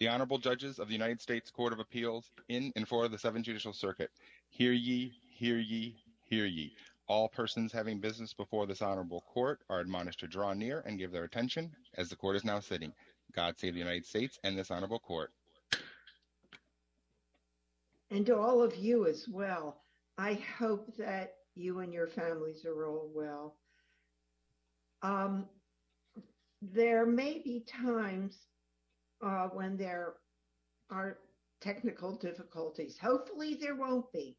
The Honorable Judges of the United States Court of Appeals in and for the Seventh Judicial Circuit. Hear ye, hear ye, hear ye. All persons having business before this Honorable Court are admonished to draw near and give their attention as the Court is now sitting. God save the United States and this Honorable Court. And to all of you as well, I hope that you and your families are all well. There may be times when there are technical difficulties. Hopefully there won't be.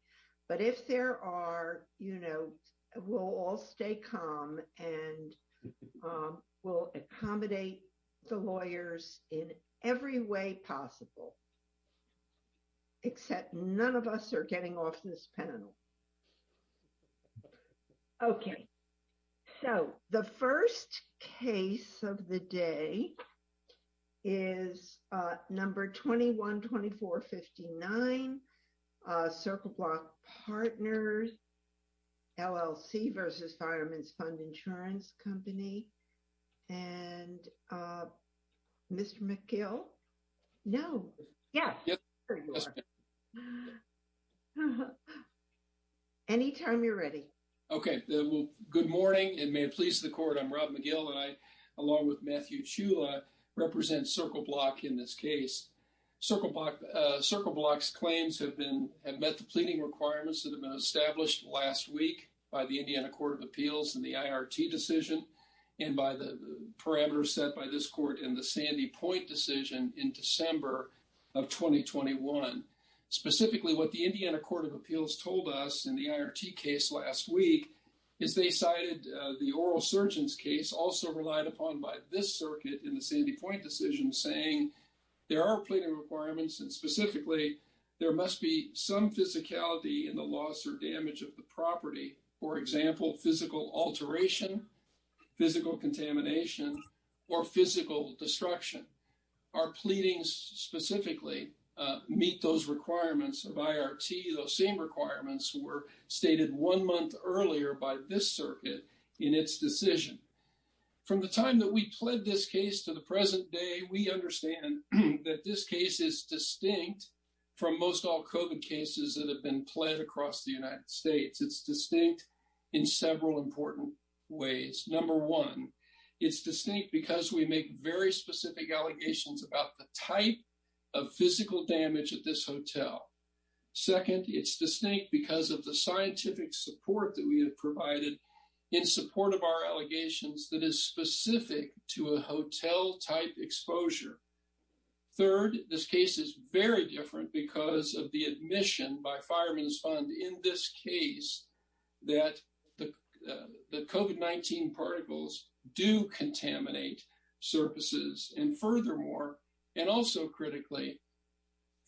But if there are, you know, we'll all stay calm and we'll accommodate the lawyers in every way possible. Except none of us are getting off this panel. Okay, so the first case of the day is number 212459, Circle Block Partners, LLC v. Fireman's Fund Insurance Company. And Mr. McGill? No. Yeah. Anytime you're ready. Okay, well, good morning and may it please the represent Circle Block in this case. Circle Block's claims have met the pleading requirements that have been established last week by the Indiana Court of Appeals in the IRT decision and by the parameters set by this Court in the Sandy Point decision in December of 2021. Specifically, what the Indiana Court of Appeals told us in the IRT case last week is they cited the oral surgeon's case also relied upon by this circuit in the Sandy Point decision saying there are pleading requirements and specifically there must be some physicality in the loss or damage of the property. For example, physical alteration, physical contamination, or physical destruction. Our pleadings specifically meet those requirements of IRT. Those same requirements were in its decision. From the time that we pled this case to the present day, we understand that this case is distinct from most all COVID cases that have been pled across the United States. It's distinct in several important ways. Number one, it's distinct because we make very specific allegations about the type of physical damage at this hotel. Second, it's distinct because of the scientific support that we have provided in support of our allegations that is specific to a hotel-type exposure. Third, this case is very different because of the admission by Fireman's Fund in this case that the COVID-19 particles do contaminate surfaces. Furthermore, and also critically,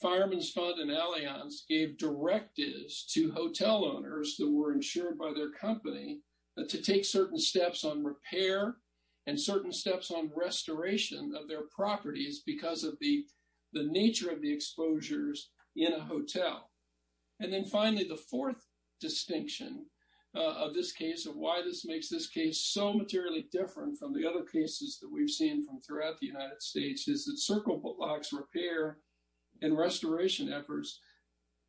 Fireman's Fund and Allianz gave directives to hotel owners that were insured by their company to take certain steps on repair and certain steps on restoration of their properties because of the nature of the exposures in a hotel. Finally, the fourth distinction of this case and why this makes this case so materially different from the other cases that Circle Foot Locks repair and restoration efforts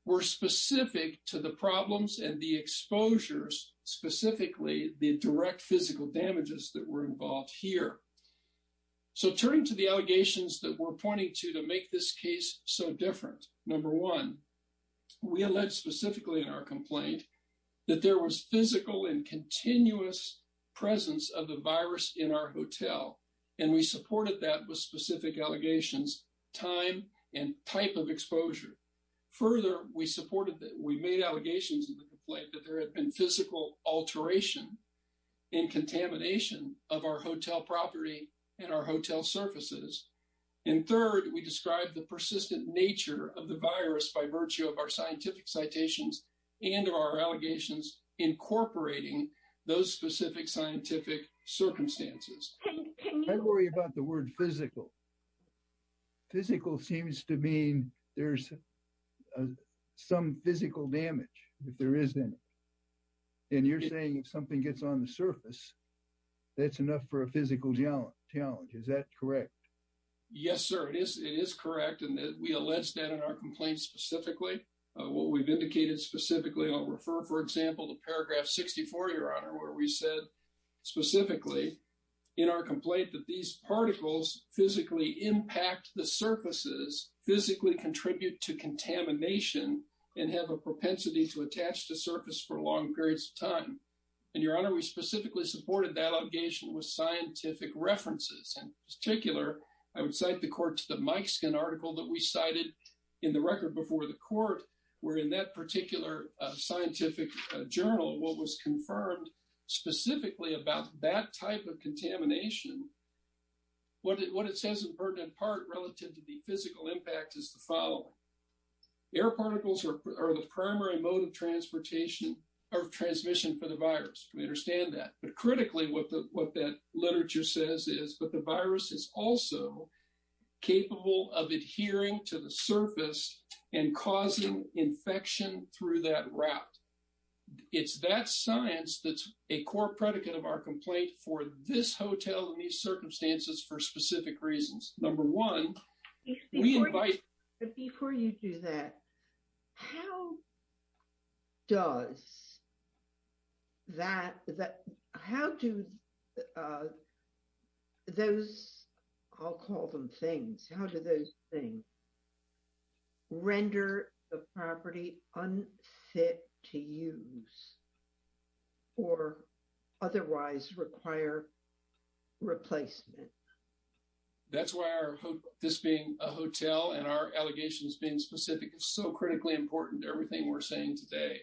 were specific to the problems and the exposures, specifically the direct physical damages that were involved here. So turning to the allegations that we're pointing to to make this case so different, number one, we allege specifically in our complaint that there was physical and continuous presence of the virus in our hotel, and we supported that with specific allegations, time, and type of exposure. Further, we supported that we made allegations in the complaint that there had been physical alteration and contamination of our hotel property and our hotel surfaces. And third, we described the persistent nature of the virus by virtue of our scientific citations and our allegations incorporating those specific scientific circumstances. I worry about the word physical. Physical seems to mean there's some physical damage if there isn't. And you're saying if something gets on the surface, that's enough for a physical challenge. Is that correct? Yes, sir. It is. It is correct. And we allege that in our complaint specifically. What we've indicated specifically, I'll refer, for example, to paragraph 64, Your Honor, where we said specifically in our complaint that these particles physically impact the surfaces, physically contribute to contamination, and have a propensity to attach to surface for long periods of time. And Your Honor, we specifically supported that allegation with scientific references. In particular, I would cite the court to the Mikeskin article that we cited in the record before the court, where in that particular scientific journal, what was confirmed specifically about that type of contamination, what it says in pertinent part relative to the physical impact is the following. Air particles are the primary mode of transportation or transmission for the virus. We understand that. But critically, what that literature says is, the virus is also capable of adhering to the surface and causing infection through that route. It's that science that's a core predicate of our complaint for this hotel in these circumstances for specific reasons. Number one, we invite... Before you do that, how does that, how do those, I'll call them things, how do those things render the property unfit to use or otherwise require replacement? That's why our, this being a hotel and our allegations being specific, it's so critically important to everything we're saying today.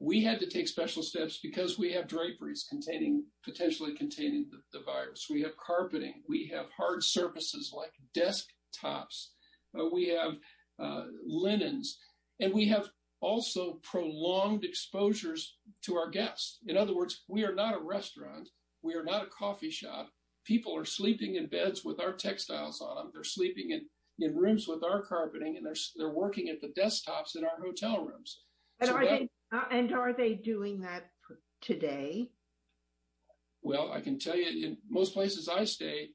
We had to take special steps because we have draperies containing, potentially containing the virus. We have carpeting. We have hard surfaces like desktops. We have linens. And we have also prolonged exposures to our guests. In other words, we are not a restaurant. We are not a coffee shop. People are sleeping in beds with our textiles on them. They're sleeping in rooms with our carpeting, and they're working at the desktops in our hotel rooms. And are they doing that today? Well, I can tell you in most places I stay,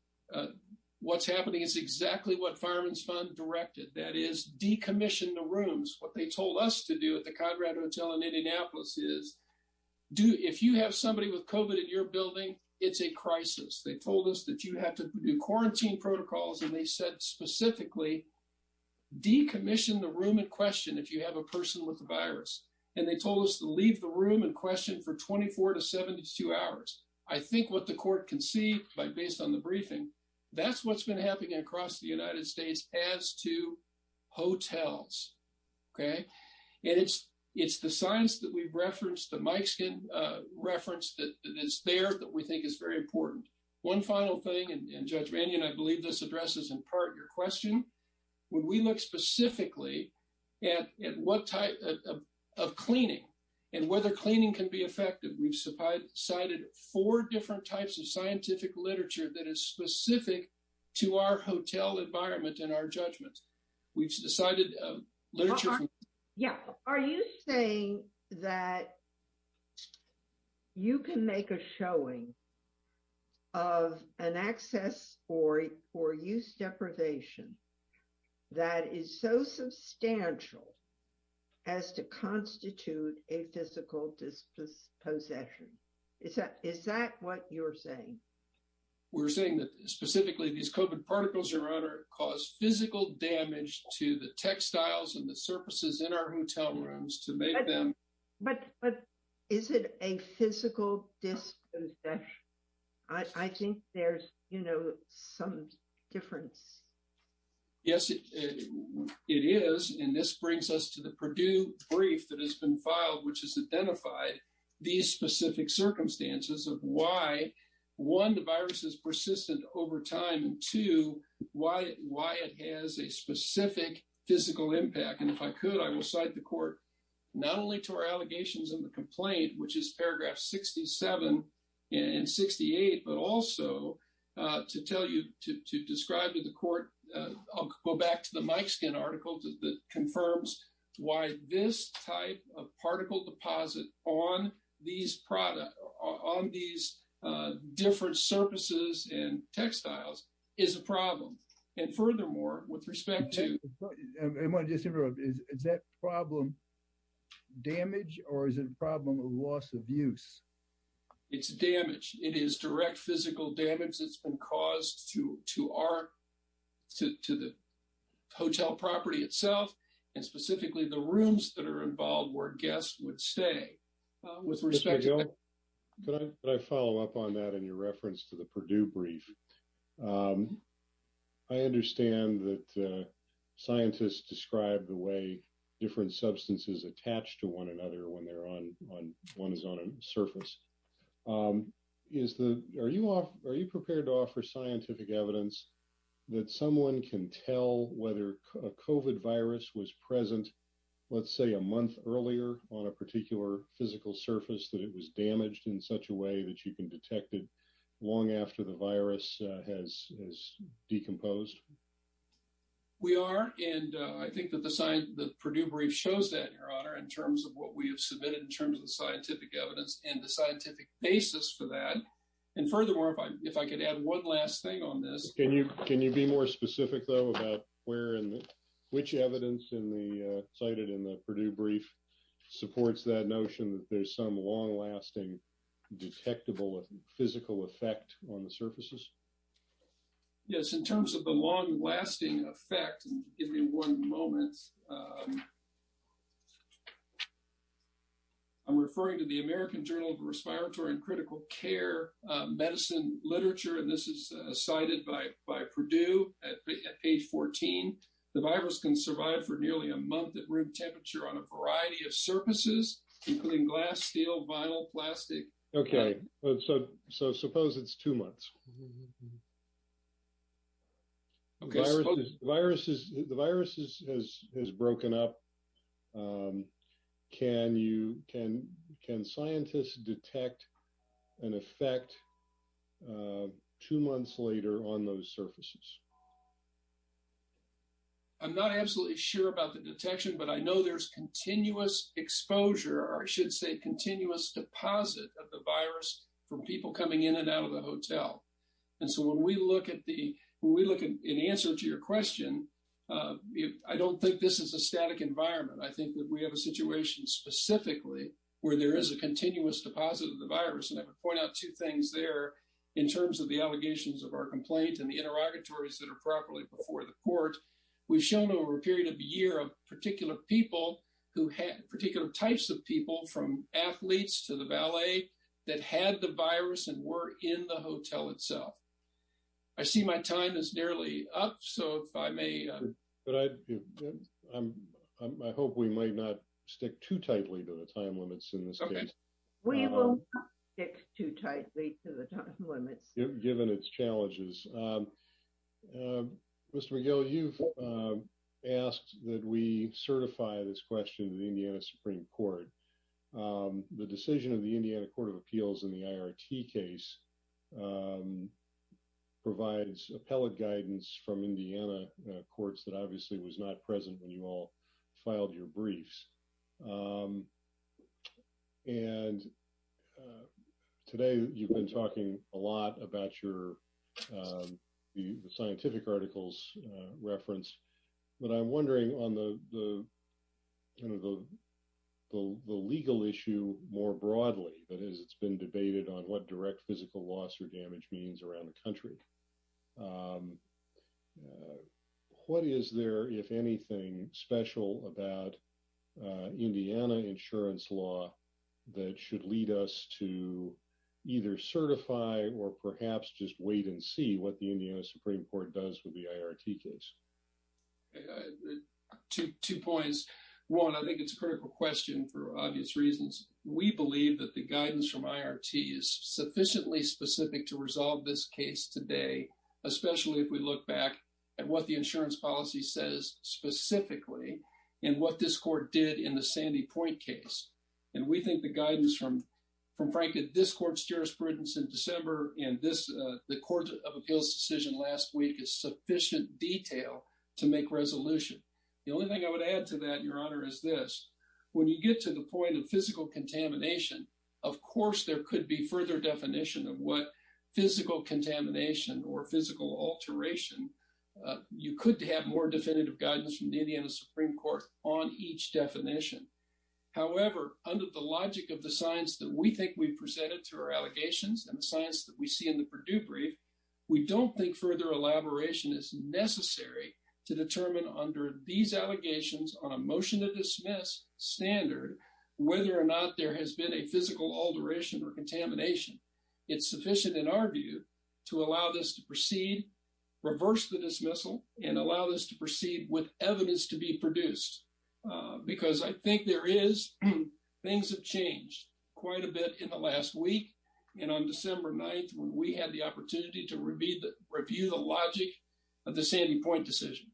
what's happening is exactly what Fireman's Fund directed, that is decommissioned the rooms. What they told us to do at the Conrad Hotel in Indianapolis is, if you have somebody with COVID in your building, it's a crisis. They told us that you have to do quarantine protocols. And they said specifically, decommission the room in question if you have a person with the virus. And they told us to leave the room in question for 24 to 72 hours. I think what the court can see, based on the briefing, that's what's been happening across the United States as to hotels. Okay? And it's the science that we've referenced, that Mike's referenced, that is there that we think is very important. One final thing, and Judge Mannion, I believe this addresses in part your question. When we look specifically at what type of cleaning and whether cleaning can be effective, we've cited four different types of scientific literature that is specific to our hotel environment and our judgments. We've cited literature from- that is so substantial as to constitute a physical dispossession. Is that what you're saying? We're saying that, specifically, these COVID particles, Your Honor, cause physical damage to the textiles and the surfaces in our hotel rooms to make them- But is it a physical dispossession? I think there's some difference. Yes, it is. And this brings us to the Purdue brief that has been filed, which has identified these specific circumstances of why, one, the virus is persistent over time, and two, why it has a specific physical impact. And if I could, I will cite the court, not only to our allegations in the complaint, which is paragraph 67 and 68, but also to tell you to describe to the court- I'll go back to the Mike Skinn article that confirms why this type of particle deposit on these products, on these different surfaces and textiles, is a problem. And furthermore, with respect to- Okay. I want to just interrupt. Is that problem damage or is it a problem of loss of use? It's damage. It is direct physical damage that's been caused to the hotel property itself, and specifically the rooms that are involved where guests would stay. With respect to- Mr. Joe, could I follow up on that in your reference to the Purdue brief? I understand that scientists describe the way different substances attach to one another when one is on a surface. Are you prepared to offer scientific evidence that someone can tell whether a COVID virus was present, let's say, a month earlier on a particular physical surface that it was damaged in such a way that you can detect it long after the virus has decomposed? We are, and I think that the Purdue brief shows that, Your Honor, in terms of what we have submitted in terms of the scientific evidence and the scientific basis for that. And furthermore, if I could add one last thing on this- Can you be more specific, though, about which evidence cited in the Purdue brief supports that notion that there's some long-lasting, detectable physical effect on the surfaces? Yes, in terms of the long-lasting effect, give me one moment. I'm referring to the American Journal of Respiratory and Critical Care medicine literature, and this is cited by Purdue at page 14. The virus can survive for nearly a month at room temperature on a variety of surfaces, including glass, steel, vinyl, plastic. Okay, so suppose it's two months. The virus has broken up. Can scientists detect an effect two months later on those surfaces? I'm not absolutely sure about the detection, but I know there's continuous exposure, or I should say continuous deposit of the virus from people coming in and out of the hotel. And so when we look at the answer to your question, I don't think this is a static environment. I think that we have a situation specifically where there is a continuous deposit of the virus. And I would point out two things there in terms of the allegations of our complaint and the interrogatories that are properly before the court. We've shown over a year of particular people who had particular types of people from athletes to the valet that had the virus and were in the hotel itself. I see my time is nearly up, so if I may... I hope we might not stick too tightly to the time limits in this case. We will not stick too tightly to the time limits. Given its challenges. Mr. McGill, you've asked that we certify this question to the Indiana Supreme Court. The decision of the Indiana Court of Appeals in the IRT case provides appellate guidance from Indiana courts that obviously was not present when you all your scientific articles referenced. But I'm wondering on the legal issue more broadly, that is, it's been debated on what direct physical loss or damage means around the country. What is there, if anything, special about Indiana insurance law that should lead us to either certify or perhaps just wait and see what the Indiana Supreme Court does with the IRT case? Two points. One, I think it's a critical question for obvious reasons. We believe that the guidance from IRT is sufficiently specific to resolve this case today, especially if we look back at what the insurance policy says specifically and what this in December and the Court of Appeals decision last week is sufficient detail to make resolution. The only thing I would add to that, Your Honor, is this. When you get to the point of physical contamination, of course, there could be further definition of what physical contamination or physical alteration. You could have more definitive guidance from the Indiana Supreme Court on each definition. However, under the logic of the science that we think we've presented to our allegations and the science that we see in the Purdue brief, we don't think further elaboration is necessary to determine under these allegations on a motion to dismiss standard whether or not there has been a physical alteration or contamination. It's sufficient, in our view, to allow this to proceed, reverse the dismissal, and allow this proceed with evidence to be produced. Because I think there is, things have changed quite a bit in the last week. And on December 9th, when we had the opportunity to review the logic of the standing point decision.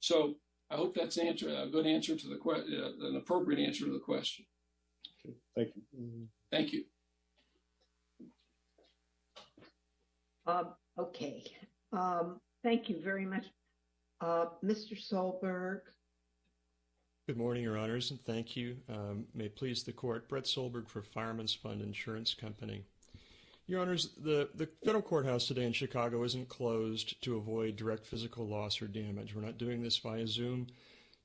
So, I hope that's a good answer to the question, an appropriate answer to the question. Thank you. Thank you. Okay. Thank you very much. Mr. Solberg. Good morning, your honors, and thank you. May it please the court, Brett Solberg for Fireman's Fund Insurance Company. Your honors, the federal courthouse today in Chicago isn't closed to avoid direct physical loss or damage. We're not doing this via Zoom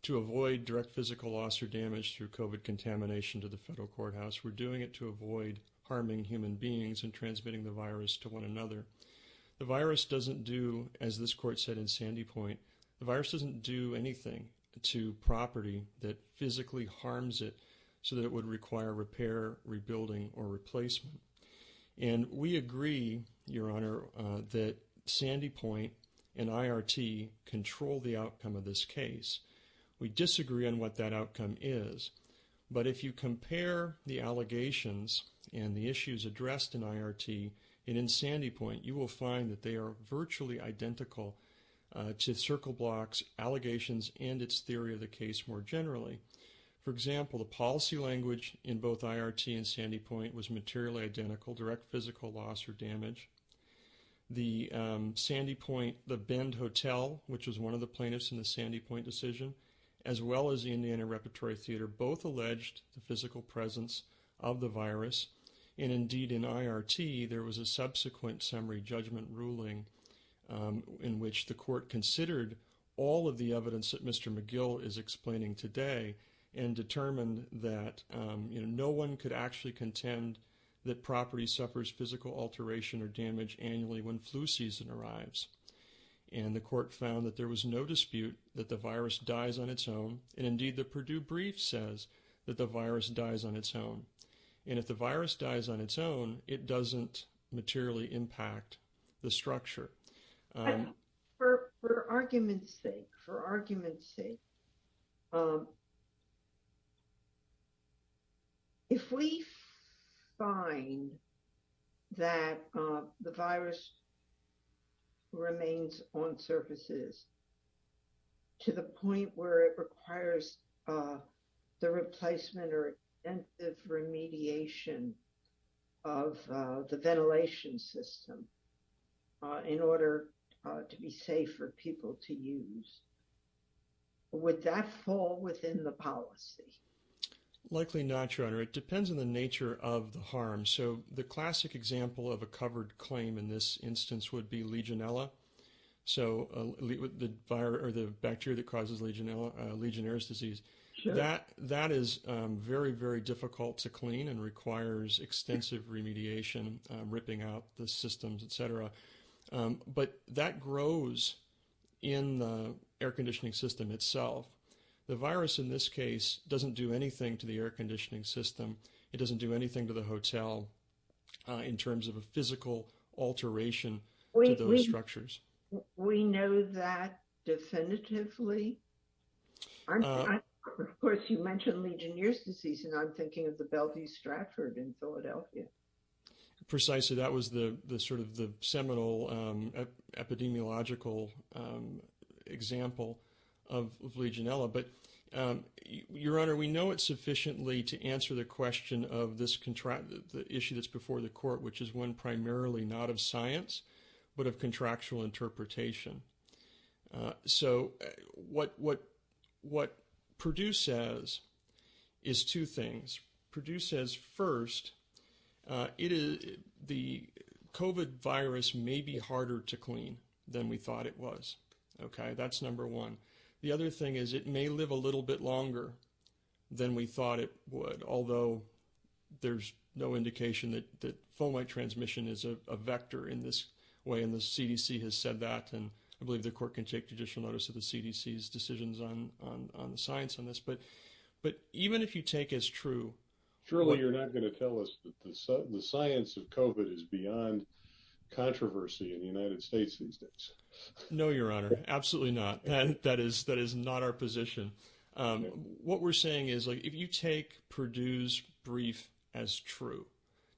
to avoid direct physical loss or damage through COVID contamination to the federal courthouse. We're doing it to avoid harming human beings and transmitting the virus to one another. The virus doesn't do, as this court said in Sandy Point, the virus doesn't do anything to property that physically harms it so that it would require repair, rebuilding, or replacement. And we agree, your honor, that Sandy Point and IRT control the outcome of this case. We disagree on what that outcome is. But if you compare the allegations and the issues addressed in IRT and in Sandy Point, you will find that they are virtually identical to CircleBlock's allegations and its theory of the case more generally. For example, the policy language in both IRT and Sandy Point was materially identical, direct physical loss or damage. The Sandy Point, the Bend Hotel, which was one of the plaintiffs in the Sandy Point decision, as well as the Indiana Repertory Theater, both alleged the physical presence of the virus. And indeed in IRT, there was a subsequent summary judgment ruling in which the court considered all of the evidence that Mr. McGill is explaining today and determined that no one could actually contend that property suffers physical alteration or damage annually when flu season arrives. And the court found that there was no dispute that the virus dies on its own. And indeed, the Purdue brief says that the virus dies on its own. And if the virus dies on its own, it doesn't materially impact the structure. For argument's sake, for argument's sake, if we find that the virus remains on surfaces to the point where it requires the replacement or remediation of the ventilation system in order to be safe for people to use, would that fall within the policy? Dr. Gregory Poland Likely not, Your Honor. It depends on the nature of the harm. So the classic example of a covered claim in this instance would be Legionella. So the bacteria that causes Legionnaire's disease, that is very, very difficult to clean and requires extensive remediation, ripping out the systems, et cetera. But that grows in the air conditioning system itself. The virus in this case doesn't do anything to the air conditioning system. It doesn't do anything to the hotel in terms of a physical alteration to those structures. Dr. Anneke Vandenbroek We know that definitively. Dr. Gregory Poland Of course, you mentioned Legionnaire's disease, and I'm thinking of the Bellevue-Stratford in Philadelphia. Dr. Gregory Poland Precisely. That was the sort of the seminal epidemiological example of Legionella. But Your Honor, we know it sufficiently to answer the question of this issue that's before the court, which is one primarily not of science, but of contractual interpretation. So what Purdue says is two things. Purdue says first, the COVID virus may be harder to clean than we thought it was. Okay, that's number one. The other thing is it may live a little bit longer than we thought it would, although there's no indication that fomalheit transmission is a vector in this way, and the CDC has said that. And I believe the court can take judicial notice of the CDC's decisions on the science on this. But even if you take as true... No, Your Honor, absolutely not. That is not our position. What we're saying is, if you take Purdue's brief as true,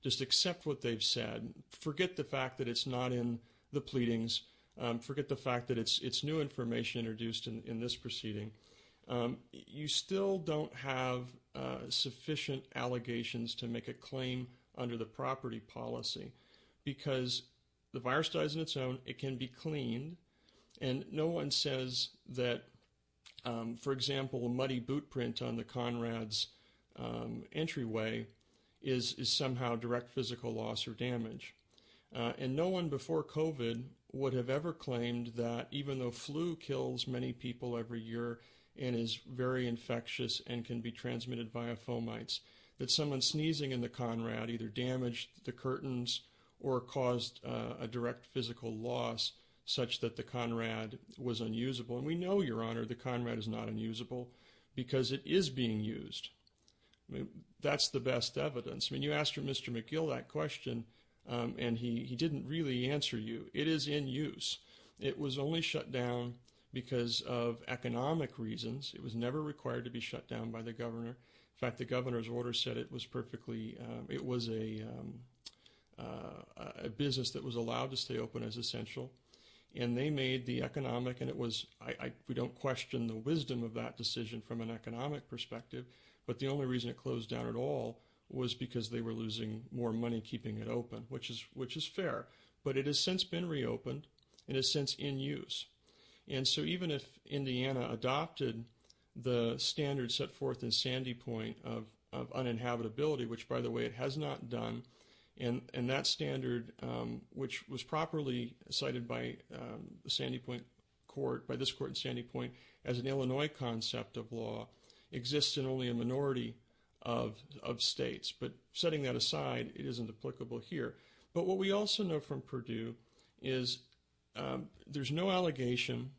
just accept what they've said, forget the fact that it's not in the pleadings, forget the fact that it's new information introduced in this proceeding, you still don't have sufficient allegations to make a claim under the property policy, because the virus dies on its own, it can be cleaned, and no one says that, for example, a muddy boot print on the Conrad's entryway is somehow direct physical loss or damage. And no one before COVID would have ever claimed that even though flu kills many people every year and is very infectious and can be transmitted via fomites, that someone sneezing in the Conrad either damaged the curtains or caused a direct physical loss such that the Conrad was unusable. And we know, Your Honor, the Conrad is not unusable because it is being used. That's the best evidence. When you asked Mr. McGill that question, and he didn't really answer you, it is in use. It was only shut down because of economic reasons. It was never required to be shut down by the governor. In fact, the governor's order said it was a business that was allowed to stay open as essential. And they made the economic, and we don't question the wisdom of that decision from an economic perspective, but the only reason it closed down at all was because they were losing more money keeping it open, which is fair. But it has since been reopened and is since in use. And so even if by the way, it has not done, and that standard, which was properly cited by the Sandy Point Court, by this court in Sandy Point, as an Illinois concept of law exists in only a minority of states. But setting that aside, it isn't applicable here. But what we also know from Purdue is there's no allegation,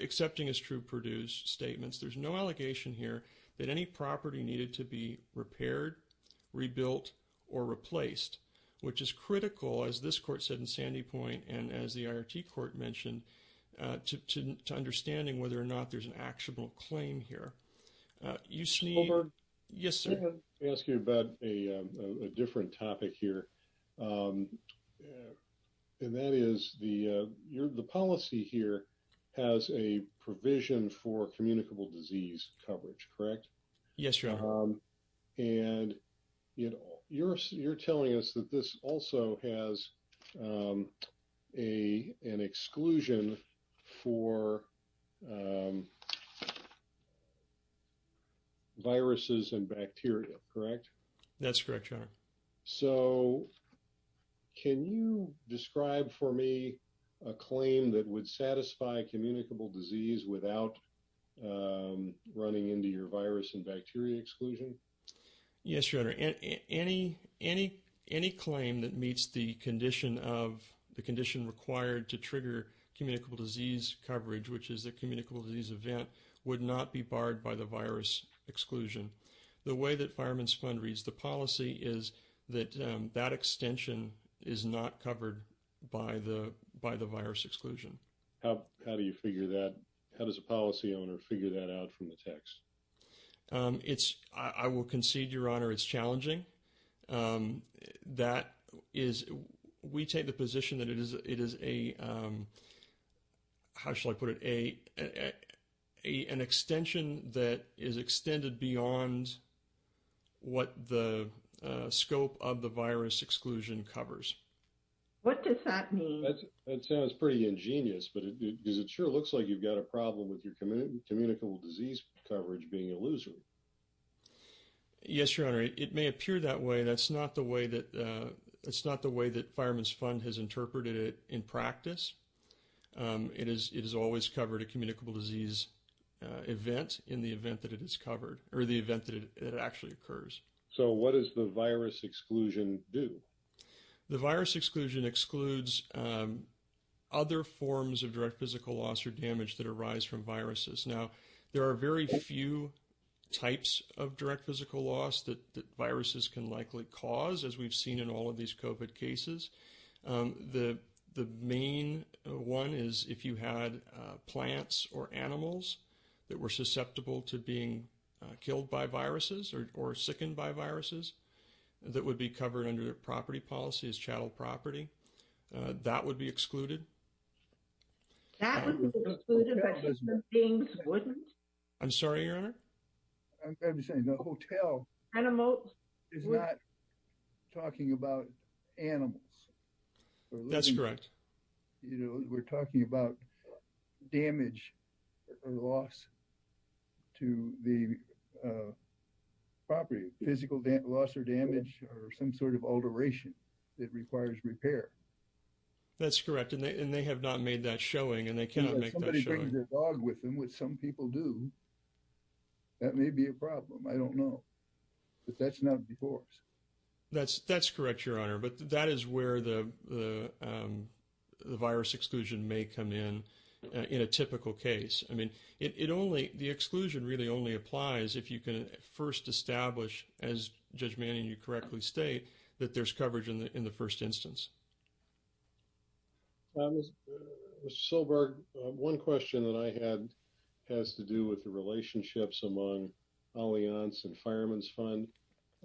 excepting as true Purdue's statements, there's no allegation here that any property needed to be repaired, rebuilt, or replaced, which is critical, as this court said in Sandy Point, and as the IRT court mentioned, to understanding whether or not there's an actual claim here. You see... Yes, sir. Robert, I want to ask you about a different topic here. And that is the policy here has a provision for communicable disease coverage, correct? Yes, your honor. And you're telling us that this also has an exclusion for viruses and bacteria, correct? That's correct, your honor. So, can you describe for me a claim that would satisfy communicable disease without running into your virus and bacteria exclusion? Yes, your honor. Any claim that meets the condition required to trigger communicable disease coverage, which is a communicable disease event, would not be barred by the virus exclusion. The way that Fireman's Fund reads the that that extension is not covered by the virus exclusion. How do you figure that? How does a policy owner figure that out from the text? I will concede, your honor, it's challenging. We take the position that it is a... What does that mean? That sounds pretty ingenious, but it sure looks like you've got a problem with your communicable disease coverage being a loser. Yes, your honor. It may appear that way. That's not the way that... It's not the way that Fireman's Fund has interpreted it in practice. It is always covered a communicable disease event in the event that it is covered or the event that it actually occurs. So what does the virus exclusion do? The virus exclusion excludes other forms of direct physical loss or damage that arise from viruses. Now, there are very few types of direct physical loss that viruses can likely cause, as we've seen in all of these COVID cases. The main one is if you had plants or animals that were susceptible to being killed by viruses or sickened by viruses that would be covered under property policies, chattel property, that would be excluded. That would be excluded, but human beings wouldn't? I'm sorry, your honor? I'm trying to say the hotel is not talking about animals. That's correct. You know, we're talking about damage or loss to the property, physical loss or damage or some sort of alteration that requires repair. That's correct. And they have not made that showing and they cannot make that showing. If somebody brings their dog with them, which some people do, that may be a problem. I don't know. But that's not before. That's correct, your honor. But that is where the virus exclusion may come in, in a typical case. I mean, it only, the exclusion really only applies if you can first establish, as Judge Manning, you correctly state that there's coverage in the first instance. Mr. Silberg, one question that I had has to do with the relationships among Allianz and Fireman's Fund.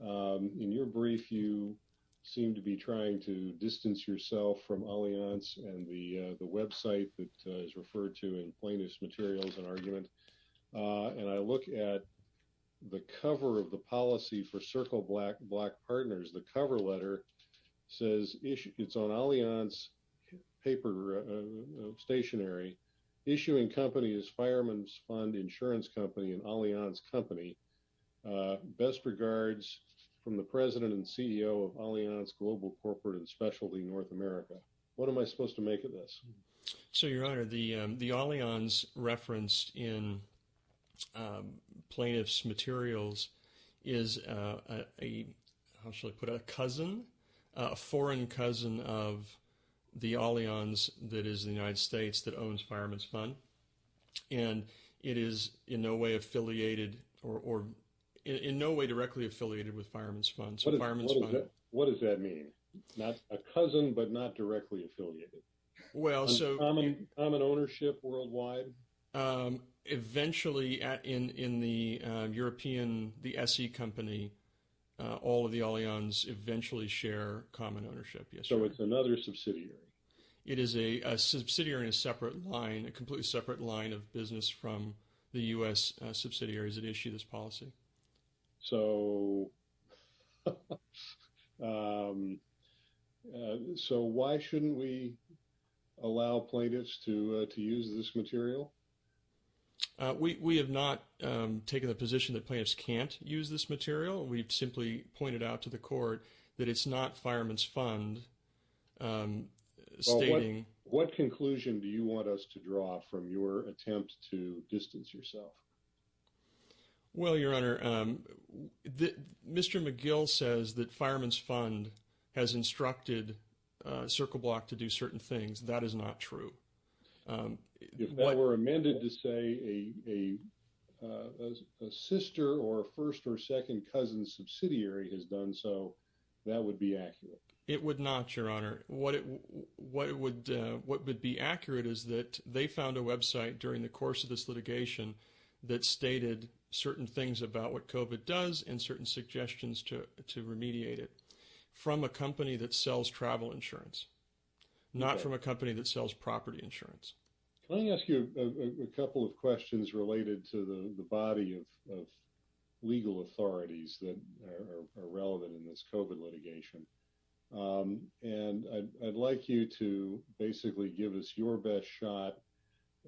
In your brief, you seem to be trying to distance yourself from Allianz and the website that is referred to in Plaintiff's Materials, an argument. And I look at the cover of the policy for Circle Black, Black Partners, the cover letter says, it's on Allianz paper, stationery, issuing company is Fireman's Fund Insurance Company and Allianz Company. Best regards from the President and CEO of Allianz Global Corporate and Specialty North America. What am I supposed to make of this? So your honor, the Allianz referenced in Plaintiff's Materials is a, how should I put it, a cousin, a foreign cousin of the Allianz that is the United States that owns Fireman's Fund. And it is in no way affiliated or in no way directly affiliated with Fireman's Fund. So Fireman's Fund. What does that mean? A cousin, but not directly affiliated? Common ownership worldwide? Eventually in the European, the SE company, all of the Allianz eventually share common ownership. So it's another subsidiary? It is a subsidiary in a separate line, a completely separate line of business from the U.S. subsidiaries that issue this policy. So why shouldn't we allow plaintiffs to use this material? We have not taken the position that plaintiffs can't use this material. We've simply pointed out to the court that it's not Fireman's Fund. What conclusion do you want us to draw from your attempt to distance yourself? Well, your honor, Mr. McGill says that Fireman's Fund has instructed CircleBlock to do certain things. That is not true. If they were amended to say a sister or first or second cousin subsidiary has done so, that would be accurate. It would not, your honor. What would be accurate is that they found a website during the course of this litigation that stated certain things about what COVID does and certain suggestions to remediate it from a company that sells travel insurance, not from a company that sells property insurance. Can I ask you a couple of questions related to the body of legal authorities that are relevant in this COVID litigation? And I'd like you to basically give us your best shot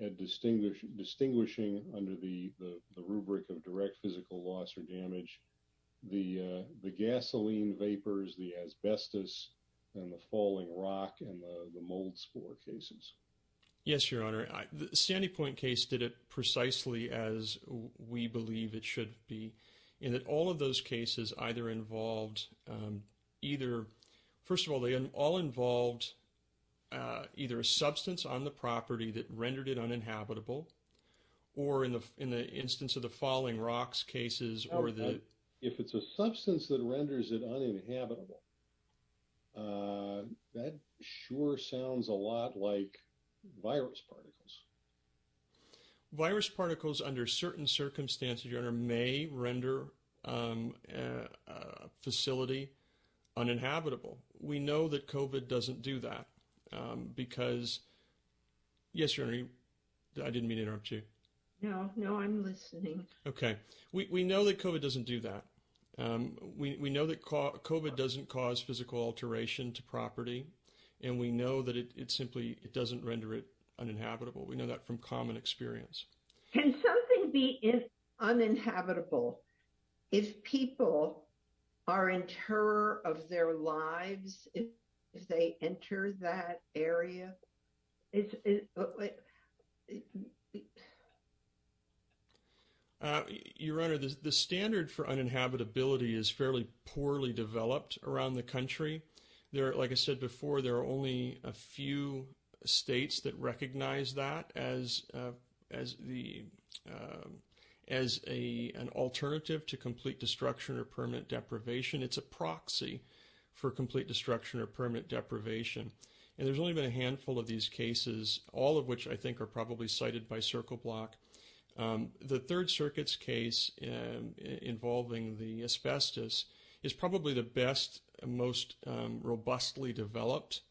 at distinguishing under the rubric of direct physical loss or damage, the gasoline vapors, the asbestos and the falling rock and the mold spore cases. Yes, your honor. The Sandy Point case did it precisely as we believe it should be in that all of those cases either involved either, first of all, they all involved either a substance on the property that rendered it uninhabitable or in the instance of the falling rocks cases or the- if it's a substance that renders it uninhabitable, that sure sounds a lot like virus particles. Virus particles under certain circumstances, your honor, may render a facility uninhabitable. We know that COVID doesn't do that because- yes, your honor, I didn't mean to interrupt you. No, no, I'm listening. Okay. We know that COVID doesn't do that. We know that COVID doesn't cause physical alteration to property and we know that it simply, it doesn't render it uninhabitable. We know that from common experience. Can something be uninhabitable if people are in terror of their lives if they enter that area? Your honor, the standard for uninhabitability is fairly poorly developed around the country. There, like I said before, there are only a few states that recognize that as an alternative to complete destruction or permanent deprivation. It's a proxy for complete destruction or permanent deprivation. And there's only been a handful of these cases, all of which I think are probably cited by CircleBlock. The Third Circuit's case involving the asbestos is probably the best, most robustly developed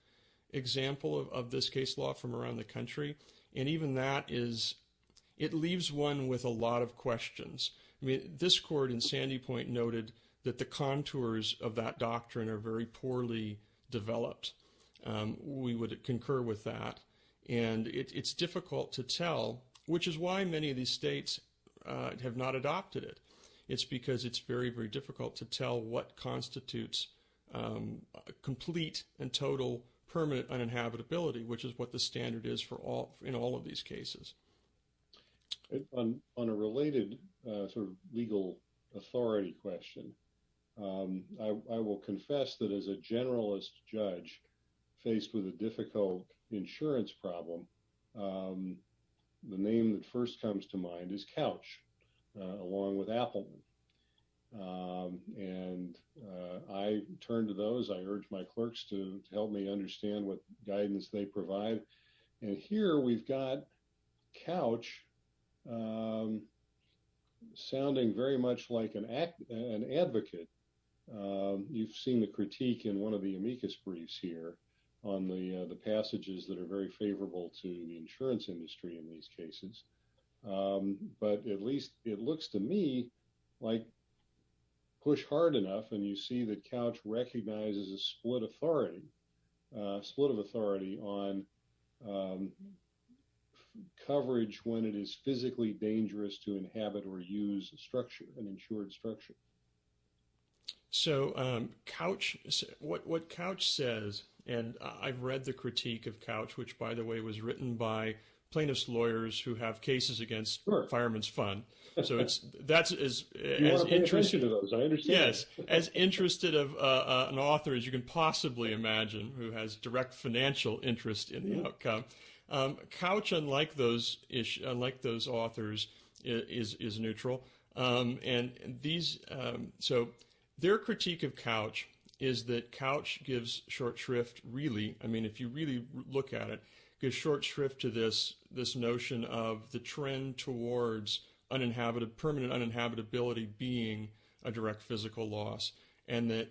example of this case law from around the country. And even that is, it leaves one with a lot of poorly developed. We would concur with that. And it's difficult to tell, which is why many of these states have not adopted it. It's because it's very, very difficult to tell what constitutes complete and total permanent uninhabitability, which is what the standard is in all of these is a generalist judge faced with a difficult insurance problem. The name that first comes to mind is Couch, along with Appleton. And I turn to those, I urge my clerks to help me understand what guidance they provide. And here we've got Couch sounding very much like an advocate. You've seen the critique in one of the amicus briefs here on the passages that are very favorable to the insurance industry in these cases. But at least it looks to me like push hard enough. And you see that Couch recognizes a split authority, split of authority on coverage when it is physically dangerous to inhabit or use structure and insured structure. So Couch, what Couch says, and I've read the critique of Couch, which by the way, was written by plaintiff's lawyers who have cases against fireman's fund. So that's as interested of an author as you can possibly imagine, who has direct financial interest in the outcome. Couch, unlike those authors, is neutral. And these, so their critique of Couch is that Couch gives short shrift really, I mean, if you really look at it, gives short shrift to this notion of the trend towards permanent uninhabitability being a direct physical loss. And that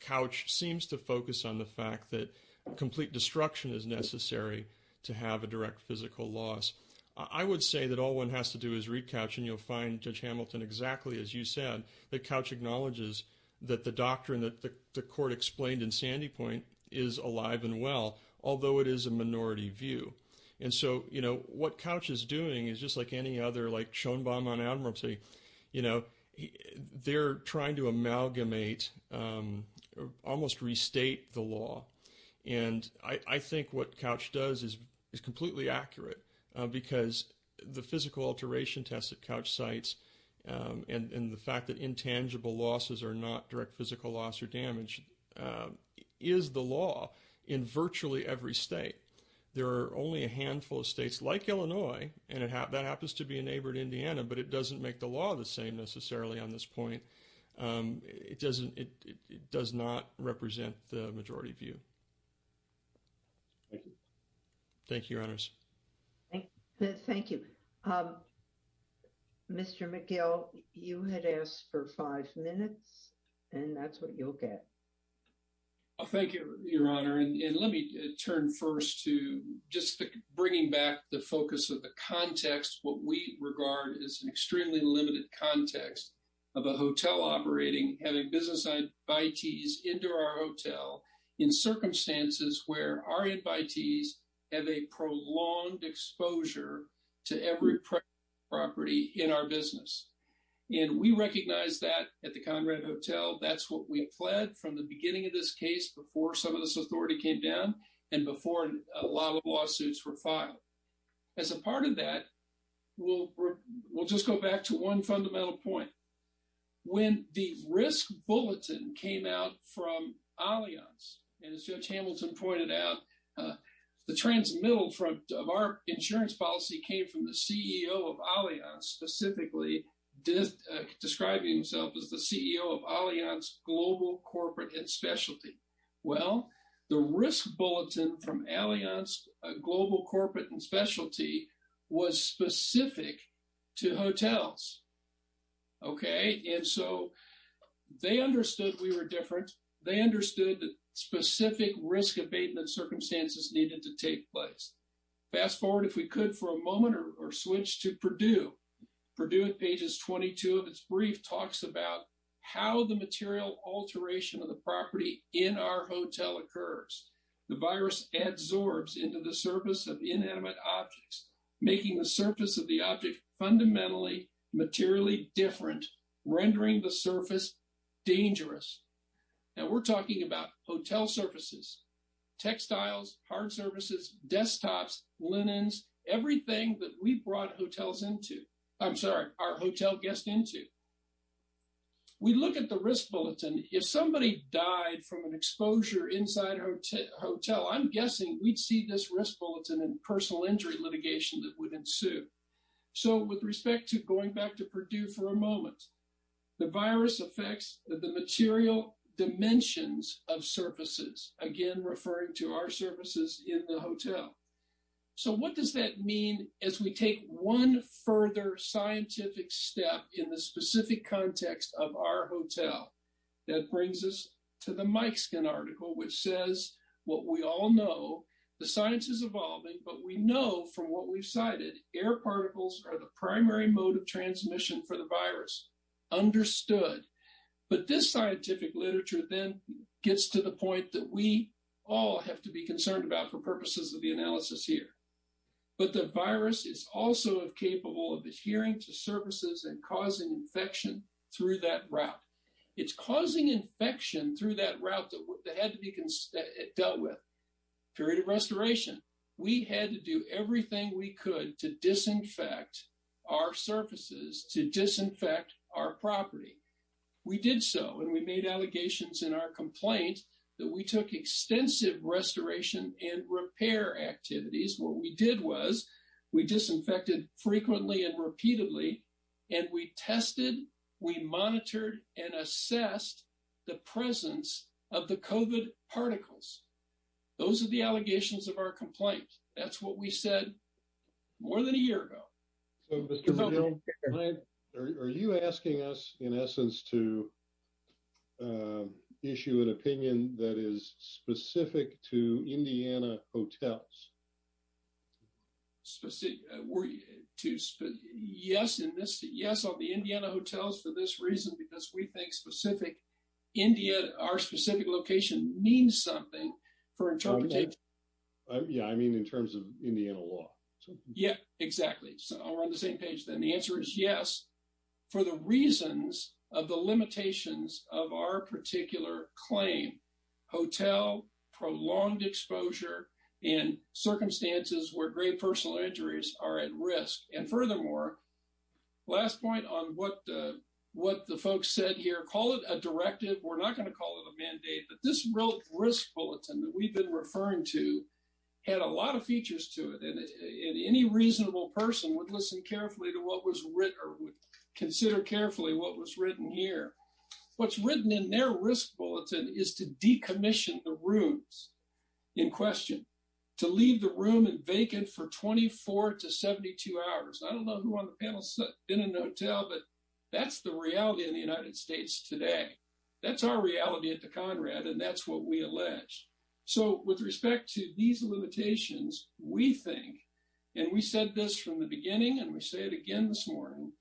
Couch seems to focus on the fact that complete destruction is necessary to have a direct physical loss. I would say that all one has to do is read Couch, and you'll find Judge Hamilton exactly as you said, that Couch acknowledges that the doctrine that the court explained in Sandy Point is alive and well, although it is a minority view. And so, you know, what Couch is doing is just like any other, like Schoenbaum on Admiralty, you know, they're trying to amalgamate, almost restate the law. And I think what Couch does is completely accurate, because the physical alteration test that Couch cites, and the fact that intangible losses are not direct physical loss or damage, is the law in virtually every state. There are only a handful of states like Illinois, and that happens to be a neighbor in Indiana, but it doesn't make the law the same necessarily on this point. It doesn't, it does not represent the majority view. Thank you. Thank you, Your Honors. Thank you. Mr. McGill, you had asked for five minutes, and that's what you'll get. Thank you, Your Honor. And let me turn first to just bringing back the focus of the context, what we regard as an extremely limited context of a hotel operating, having business invitees into our hotel, in circumstances where our invitees have a prolonged exposure to every property in our business. And we recognize that at the Conrad Hotel, that's what we pled from the beginning of this case, before some of this authority came down, and before a lot of lawsuits were filed. As a part of that, we'll just go back to one fundamental point. When the risk bulletin came out from Allianz, and as Judge Hamilton pointed out, the transmittal front of our insurance policy came from the CEO of Allianz, specifically describing himself as the CEO of Allianz Global Corporate and Specialty. Well, the risk bulletin from Allianz Global Corporate and Specialty was specific to hotels. Okay. And so, they understood we were different. They understood that specific risk abatement circumstances needed to take place. Fast forward, if we could, for a moment, or switch to Purdue. Purdue, at pages 22 of its brief, talks about how the material alteration of the property in our hotel occurs. The virus adsorbs into the surface of inanimate objects, making the surface of the object fundamentally, materially different, rendering the surface dangerous. And we're talking about hotel surfaces, textiles, hard surfaces, desktops, linens, everything that we brought hotels into. I'm sorry, our hotel guests into. We look at the risk bulletin. If somebody died from an exposure inside a hotel, I'm guessing we'd see this risk bulletin and personal injury litigation that would ensue. So, with respect to going back to Purdue for a moment, the virus affects the material dimensions of surfaces, again, referring to our surfaces in the hotel. So, what does that mean as we take one further scientific step in the specific context of our hotel? That brings us to the Mikeskin article, which says what we all know, the science is evolving, but we know from what we've cited, air particles are the primary mode of transmission for the virus. Understood. But this scientific literature then gets to the point that we all have to be concerned about for purposes of the analysis here. But the virus is also capable of adhering to surfaces and causing infection through that route. It's causing infection through that route that had to be dealt with. Period of restoration. We had to do everything we could to disinfect our surfaces, to disinfect our property. We did so, and we made allegations in our complaint that we took extensive restoration and repair activities. What we did was we disinfected frequently and repeatedly, and we tested, we monitored, and assessed the presence of the COVID particles. Those are the allegations of our complaint. That's what we said more than a year ago. So, Mr. McGill, are you asking us, in essence, to issue an opinion that is specific to Indiana hotels? Yes, on the Indiana hotels for this reason, because we think our specific location means something for interpretation. Yeah, I mean, in terms of Indiana law. Yeah, exactly. So, we're on the same page then. The answer is yes, for the reasons of the limitations of our particular claim. Hotel prolonged exposure in circumstances where grave personal injuries are at risk. And furthermore, last point on what the folks said here, call it a directive. We're not going to call it a mandate, but this risk bulletin that we've been referring to had a lot of features to it. And any reasonable person would listen carefully to what was written or would consider carefully what was written here. What's written in their risk bulletin is to decommission the rooms in question, to leave the room vacant for 24 to 72 hours. I don't know who on the panel has been in a hotel, but that's the reality in the United States today. That's our reality at the Conrad, and that's what we allege. So, with respect to these limitations, we think, and we said this from the beginning, and we say it again this morning,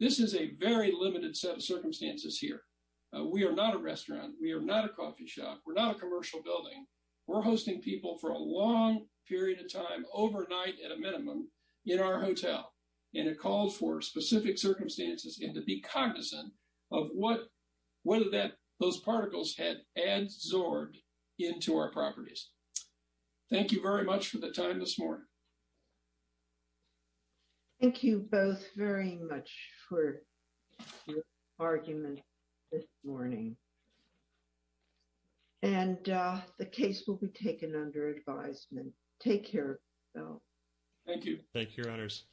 this is a very limited set of circumstances here. We are not a restaurant. We are not a coffee shop. We're not a commercial building. We're hosting people for a long period of time, overnight at a minimum, in our hotel. And it calls for specific circumstances and to be cognizant of whether those particles had adsorbed into our properties. Thank you very much for the time this morning. Thank you both very much for your argument this morning. And the case will be taken under advisement. Take care of yourselves. Thank you. Thank you, Your Honors.